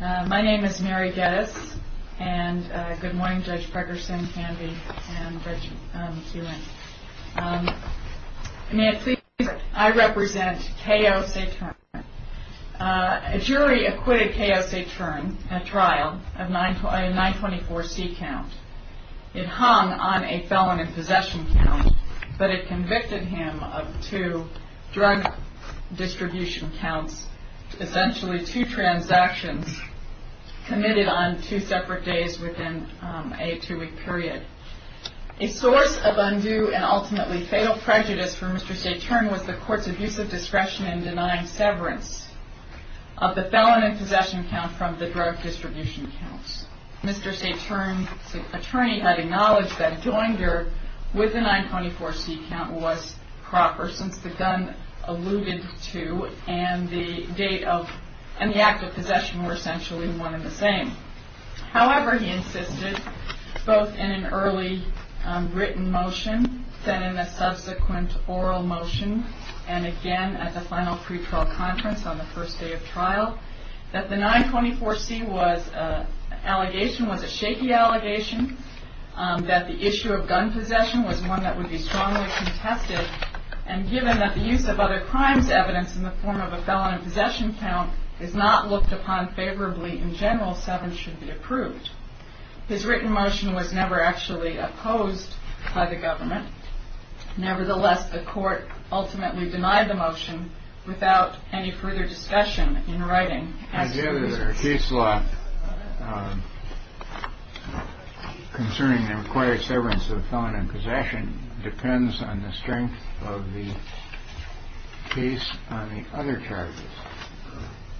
My name is Mary Geddes and good morning Judge Pregerson, Candy, and Reggie. May I please introduce myself? I represent K.O. Saetern. A jury acquitted K.O. Saetern at trial of a 924C count. It hung on a felon in possession count, but it convicted him of two drug distribution counts, essentially two transactions committed on two separate days within a two-week period. A source of undue and ultimately fatal prejudice for Mr. Saetern was the court's abusive discretion in denying severance of the felon in possession count from the drug distribution counts. Mr. Saetern's attorney had acknowledged that a joinder with the 924C count was proper, since the gun alluded to and the act of possession were essentially one and the same. However, he insisted, both in an early written motion, then in a subsequent oral motion, and again at the final pre-trial conference on the first day of trial, that the 924C allegation was a shaky allegation, that the issue of gun possession was one that would be strongly contested, and given that the use of other crimes evidence in the form of a felon in possession count is not looked upon favorably in general, severance should be approved. His written motion was never actually opposed by the government. Nevertheless, the court ultimately denied the motion without any further discussion in writing. The case law concerning the required severance of the felon in possession depends on the strength of the case on the other charges.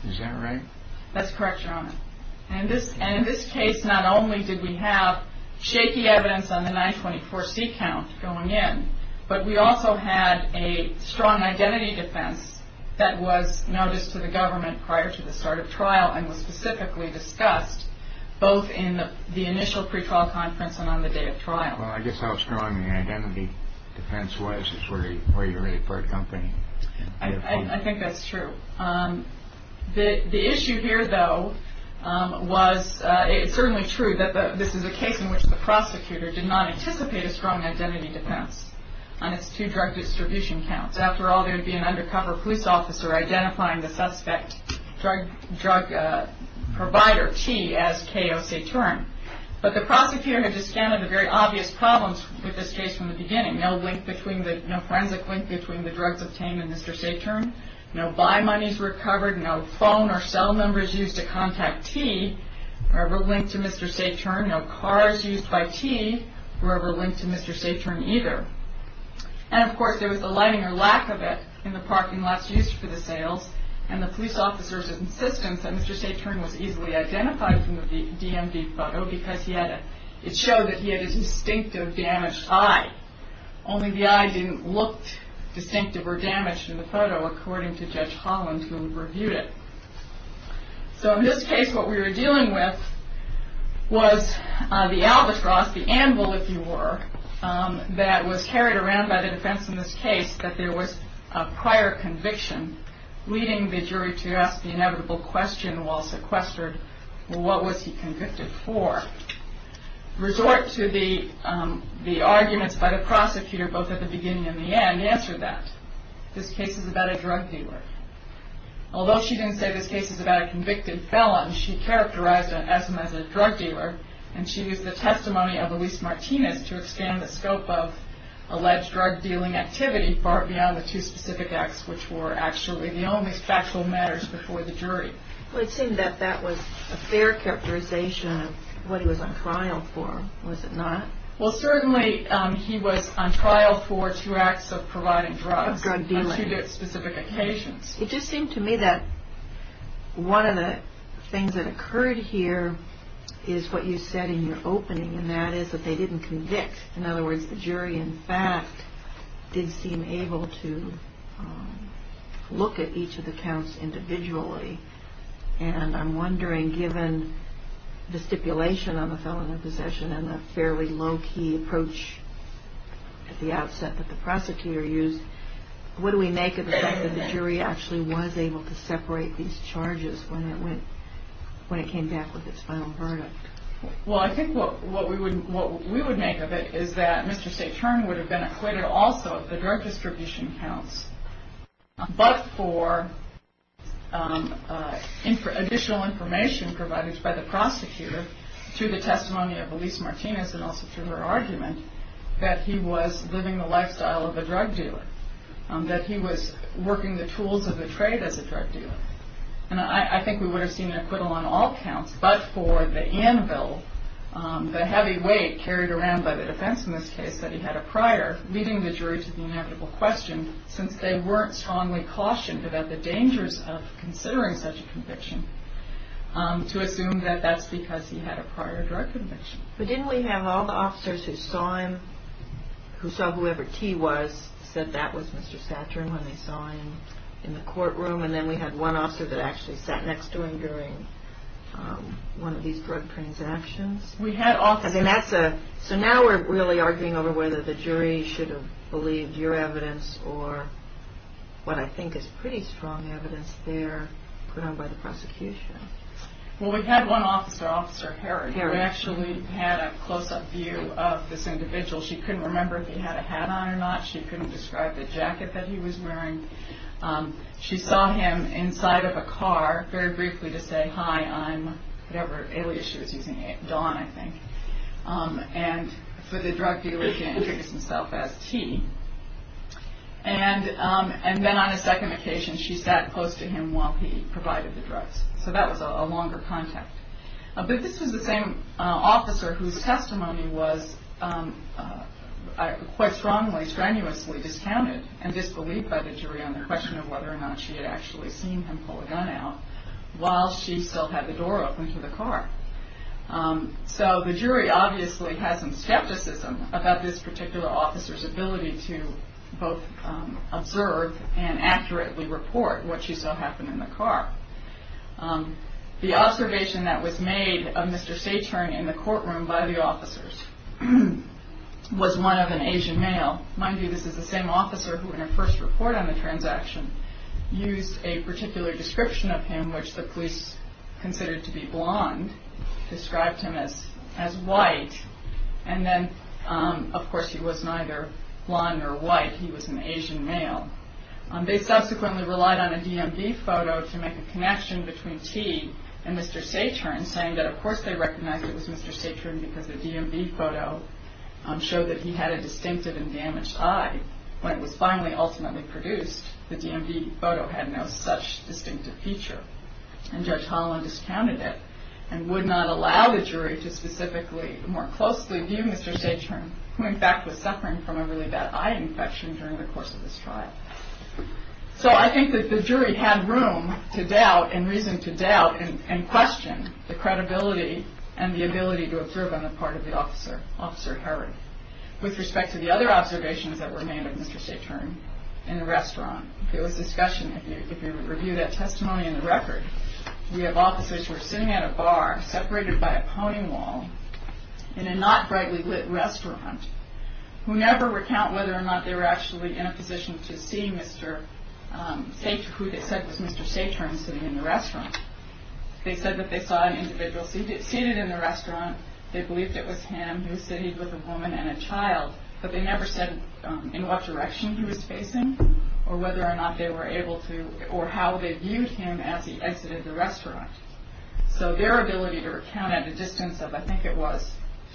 Is that right? That's correct, Your Honor. And in this case, not only did we have shaky evidence on the 924C count going in, but we also had a strong identity defense that was noticed to the government prior to the start of trial and was specifically discussed both in the initial pre-trial conference and on the day of trial. Well, I guess how strong the identity defense was is where you're really part company. I think that's true. The issue here, though, was it's certainly true that this is a case in which the prosecutor did not anticipate a strong identity defense on its two drug distribution counts. After all, there would be an undercover police officer identifying the suspect drug provider, T, as K.O. Saturn. But the prosecutor had discounted the very obvious problems with this case from the beginning, no forensic link between the drugs obtained and Mr. Saturn, no buy monies recovered, no phone or cell numbers used to contact T were linked to Mr. Saturn, no cars used by T were ever linked to Mr. Saturn either. And, of course, there was the lighting or lack of it in the parking lots used for the sales, and the police officer's insistence that Mr. Saturn was easily identified from the DMV photo because it showed that he had a distinctive damaged eye. Only the eye didn't look distinctive or damaged in the photo, according to Judge Holland, who reviewed it. So, in this case, what we were dealing with was the albatross, the anvil, if you were, that was carried around by the defense in this case that there was a prior conviction, leading the jury to ask the inevitable question while sequestered, well, what was he convicted for? Resort to the arguments by the prosecutor, both at the beginning and the end, answered that. This case is about a drug dealer. Although she didn't say this case is about a convicted felon, she characterized Esme as a drug dealer, and she used the testimony of Luis Martinez to expand the scope of alleged drug dealing activity far beyond the two specific acts which were actually the only factual matters before the jury. Well, it seemed that that was a fair characterization of what he was on trial for, was it not? Well, certainly he was on trial for two acts of providing drugs on two specific occasions. It just seemed to me that one of the things that occurred here is what you said in your opening, and that is that they didn't convict. In other words, the jury, in fact, did seem able to look at each of the counts individually, and I'm wondering, given the stipulation on the felon in possession and the fairly low-key approach at the outset that the prosecutor used, what do we make of the fact that the jury actually was able to separate these charges when it came back with its final verdict? Well, I think what we would make of it is that Mr. Seitern would have been acquitted also if the drug distribution counts, but for additional information provided by the prosecutor through the testimony of Elise Martinez and also through her argument that he was living the lifestyle of a drug dealer, that he was working the tools of the trade as a drug dealer. And I think we would have seen an acquittal on all counts but for the anvil, the heavy weight carried around by the defense in this case that he had a prior, leading the jury to the inevitable question, since they weren't strongly cautioned about the dangers of considering such a conviction, to assume that that's because he had a prior drug conviction. But didn't we have all the officers who saw him, who saw whoever T was, said that was Mr. Seitern when they saw him in the courtroom, and then we had one officer that actually sat next to him during one of these drug transactions? We had officers. So now we're really arguing over whether the jury should have believed your evidence or what I think is pretty strong evidence there put on by the prosecution. Well, we had one officer, Officer Herring, who actually had a close-up view of this individual. She couldn't remember if he had a hat on or not. She couldn't describe the jacket that he was wearing. She saw him inside of a car, very briefly, to say, whatever alias she was using, Don, I think. And for the drug dealer, he introduced himself as T. And then on a second occasion, she sat close to him while he provided the drugs. So that was a longer contact. But this was the same officer whose testimony was quite strongly, strenuously discounted and disbelieved by the jury on the question of whether or not she had actually seen him pull a gun out while she still had the door open to the car. So the jury obviously had some skepticism about this particular officer's ability to both observe and accurately report what she saw happen in the car. The observation that was made of Mr. Saturn in the courtroom by the officers was one of an Asian male. Mind you, this is the same officer who, in her first report on the transaction, used a particular description of him, which the police considered to be blonde, described him as white. And then, of course, he was neither blonde nor white. He was an Asian male. They subsequently relied on a DMV photo to make a connection between T and Mr. Saturn, saying that, of course, they recognized it was Mr. Saturn because the DMV photo showed that he had a distinctive and damaged eye when it was finally ultimately produced. The DMV photo had no such distinctive feature. And Judge Holland discounted it and would not allow the jury to specifically more closely view Mr. Saturn, who, in fact, was suffering from a really bad eye infection during the course of this trial. So I think that the jury had room to doubt and reason to doubt and question the credibility and the ability to observe on the part of the officer, Officer Herring. With respect to the other observations that were made of Mr. Saturn in the restaurant, there was discussion. If you review that testimony in the record, we have officers who were sitting at a bar separated by a pwning wall in a not-rightly-lit restaurant who never recount whether or not they were actually in a position to see Mr. Saturn, who they said was Mr. Saturn, sitting in the restaurant. They said that they saw an individual seated in the restaurant. They believed it was him. He was seated with a woman and a child. But they never said in what direction he was facing or whether or not they were able to or how they viewed him as he exited the restaurant. So their ability to recount at a distance of, I think it was,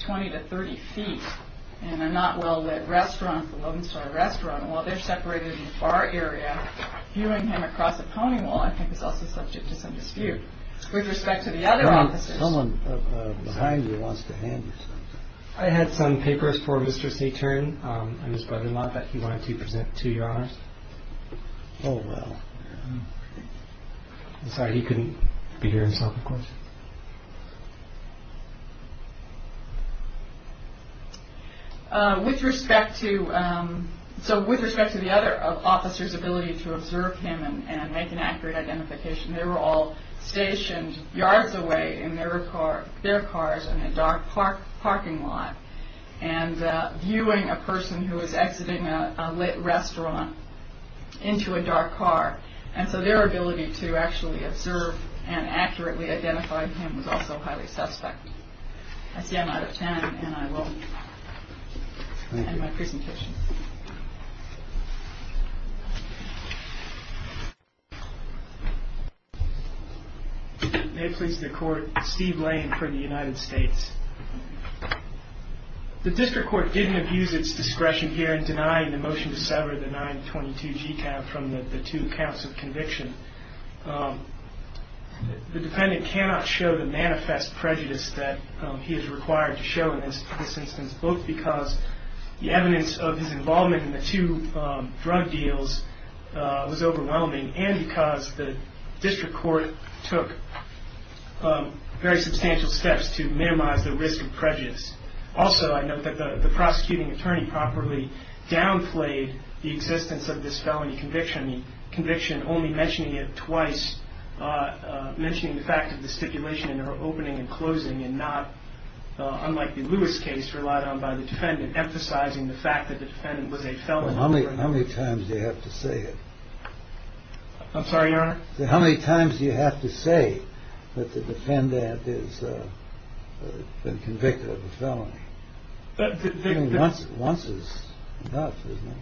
20 to 30 feet in a not-well-lit restaurant, a London-style restaurant, while they're separated in a bar area, viewing him across a pwning wall, I think, is also subject to some dispute. With respect to the other officers... Someone behind you wants to hand you something. I had some papers for Mr. Saturn and his brother-in-law that he wanted to present to Your Honor. Oh, well. I'm sorry, he couldn't be here and solve the question. With respect to the other officers' ability to observe him and make an accurate identification, they were all stationed yards away in their cars in a dark parking lot and viewing a person who was exiting a lit restaurant into a dark car. And so their ability to actually observe and accurately identify him was also highly suspect. I see I'm out of time and I will end my presentation. May it please the Court, Steve Lane for the United States. The District Court didn't abuse its discretion here in denying the motion to sever the 922 GCAV from the two counts of conviction. The defendant cannot show the manifest prejudice that he is required to show in this instance, both because the evidence of his involvement in the two drug deals was overwhelming and because the District Court took very substantial steps to minimize the risk of prejudice. Also, I note that the prosecuting attorney properly downplayed the existence of this felony conviction, the conviction only mentioning it twice, mentioning the fact of the stipulation in her opening and closing and not, unlike the Lewis case relied on by the defendant, emphasizing the fact that the defendant was a felon. How many times do you have to say it? I'm sorry, Your Honor? How many times do you have to say that the defendant has been convicted of a felony? Once is enough, isn't it?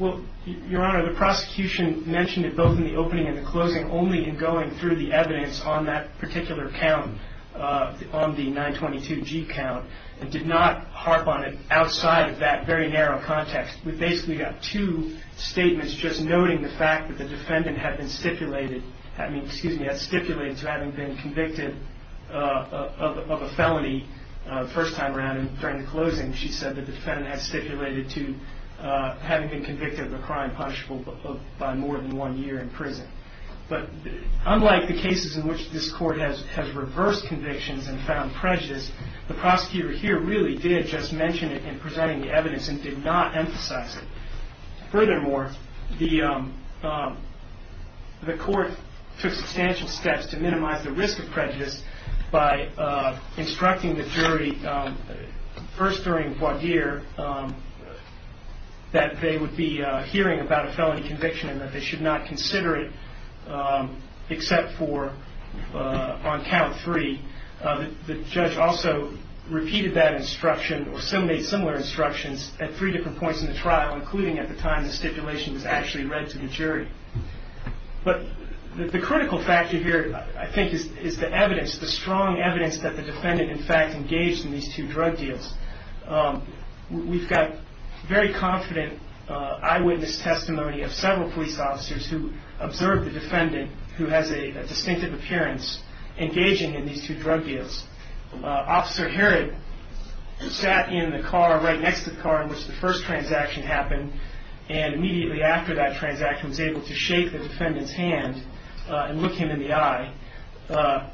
Well, Your Honor, the prosecution mentioned it both in the opening and the closing only in going through the evidence on that particular count, on the 922 G count, and did not harp on it outside of that very narrow context. We basically got two statements, just noting the fact that the defendant had stipulated to having been convicted of a felony the first time around and during the closing, she said the defendant had stipulated to having been convicted of a crime punishable by more than one year in prison. But unlike the cases in which this Court has reversed convictions and found prejudice, the prosecutor here really did just mention it in presenting the evidence and did not emphasize it. Furthermore, the Court took substantial steps to minimize the risk of prejudice by instructing the jury first during voir dire that they would be hearing about a felony conviction and that they should not consider it except for on count three. The judge also repeated that instruction or made similar instructions at three different points in the trial, including at the time the stipulation was actually read to the jury. But the critical factor here, I think, is the evidence, the strong evidence that the defendant, in fact, engaged in these two drug deals. We've got very confident eyewitness testimony of several police officers who observed the defendant, who has a distinctive appearance, engaging in these two drug deals. Officer Herod sat in the car right next to the car in which the first transaction happened and immediately after that transaction was able to shake the defendant's hand and look him in the eye.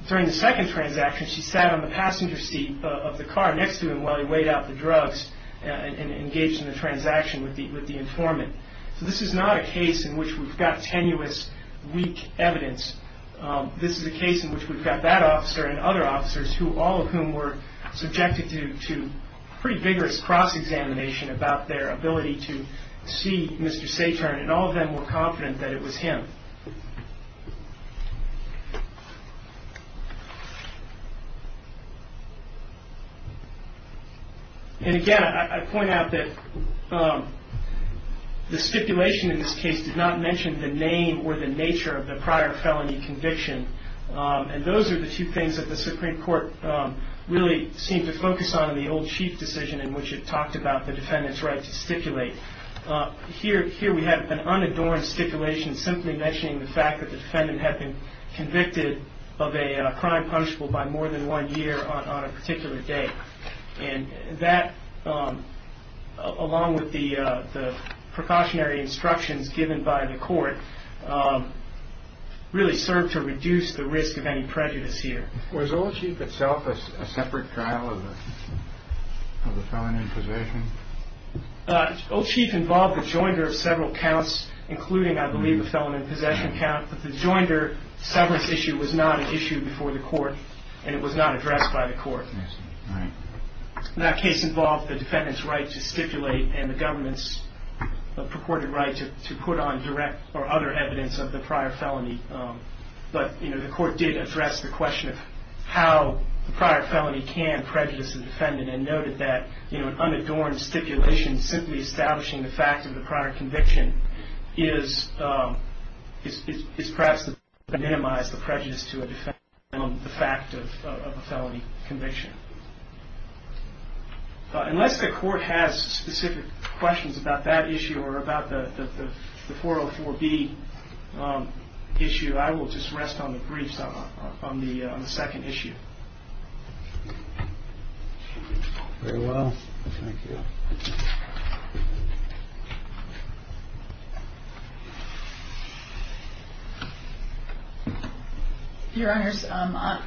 During the second transaction, she sat on the passenger seat of the car next to him while he weighed out the drugs and engaged in the transaction with the informant. So this is not a case in which we've got tenuous, weak evidence. This is a case in which we've got that officer and other officers, all of whom were subjected to pretty vigorous cross-examination about their ability to see Mr. Saturn, and all of them were confident that it was him. And again, I point out that the stipulation in this case did not mention the name or the nature of the prior felony conviction, and those are the two things that the Supreme Court really seemed to focus on in the old Chief Decision in which it talked about the defendant's right to stipulate. Here we have an unadorned stipulation simply mentioning the fact that the defendant had been convicted of a crime punishable by more than one year on a particular day. And that, along with the precautionary instructions given by the court, really served to reduce the risk of any prejudice here. Was Old Chief itself a separate trial of the felon in possession? Old Chief involved the joinder of several counts, including, I believe, a felon in possession count. But the joinder severance issue was not an issue before the court, and it was not addressed by the court. I see. All right. That case involved the defendant's right to stipulate and the government's purported right to put on direct or other evidence of the prior felony. But the court did address the question of how the prior felony can prejudice the defendant and noted that an unadorned stipulation simply establishing the fact of the prior conviction is perhaps to minimize the prejudice to a defendant on the fact of a felony conviction. Unless the court has specific questions about that issue or about the 404B issue, I will just rest on the briefs on the second issue. Very well. Thank you. Thank you. Your Honors, I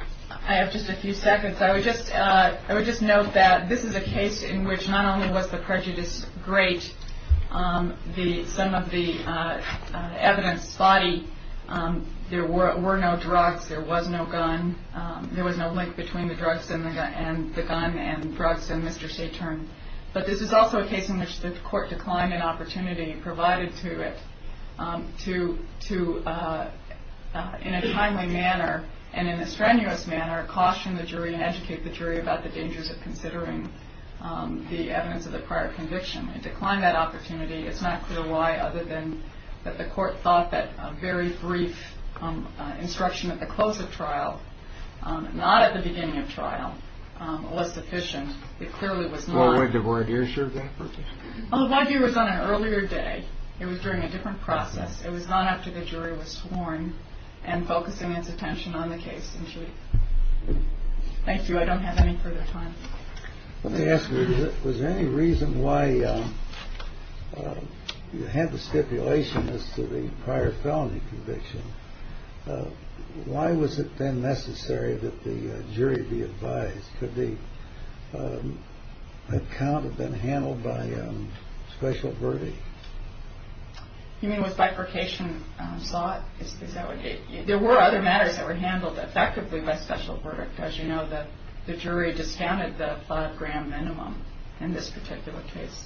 have just a few seconds. I would just note that this is a case in which not only was the prejudice great, some of the evidence body, there were no drugs, there was no gun, there was no link between the drugs and the gun and drugs and Mr. Saturn. But this is also a case in which the court declined an opportunity provided to it to, in a timely manner and in a strenuous manner, caution the jury and educate the jury about the dangers of considering the evidence of the prior conviction. It declined that opportunity. It's not clear why other than that the court thought that a very brief instruction at the close of trial, not at the beginning of trial, was sufficient. It clearly was not. Well, when did Warder issue that? Oh, Warder was on an earlier day. It was during a different process. It was not after the jury was sworn and focusing its attention on the case. Thank you. I don't have any further time. Let me ask you, was there any reason why you had the stipulation as to the prior felony conviction? Why was it then necessary that the jury be advised? Could the account have been handled by special verdict? You mean with bifurcation sought? There were other matters that were handled effectively by special verdict. As you know, the jury discounted the five-gram minimum in this particular case.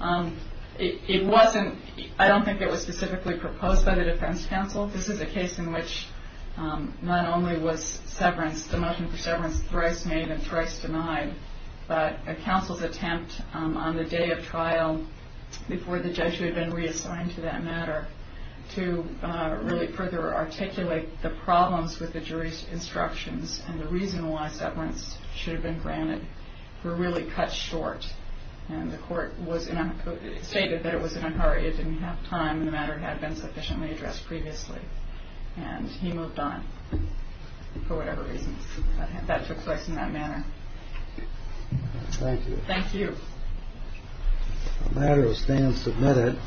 I don't think it was specifically proposed by the defense counsel. This is a case in which not only was the motion for severance thrice made and thrice denied, but a counsel's attempt on the day of trial before the judge who had been reassigned to that matter to really further articulate the problems with the jury's instructions and the reason why severance should have been granted were really cut short. And the court stated that it was in a hurry, it didn't have time, and the matter had been sufficiently addressed previously. And he moved on for whatever reason. That took place in that manner. Thank you. Thank you. The matter is then submitted.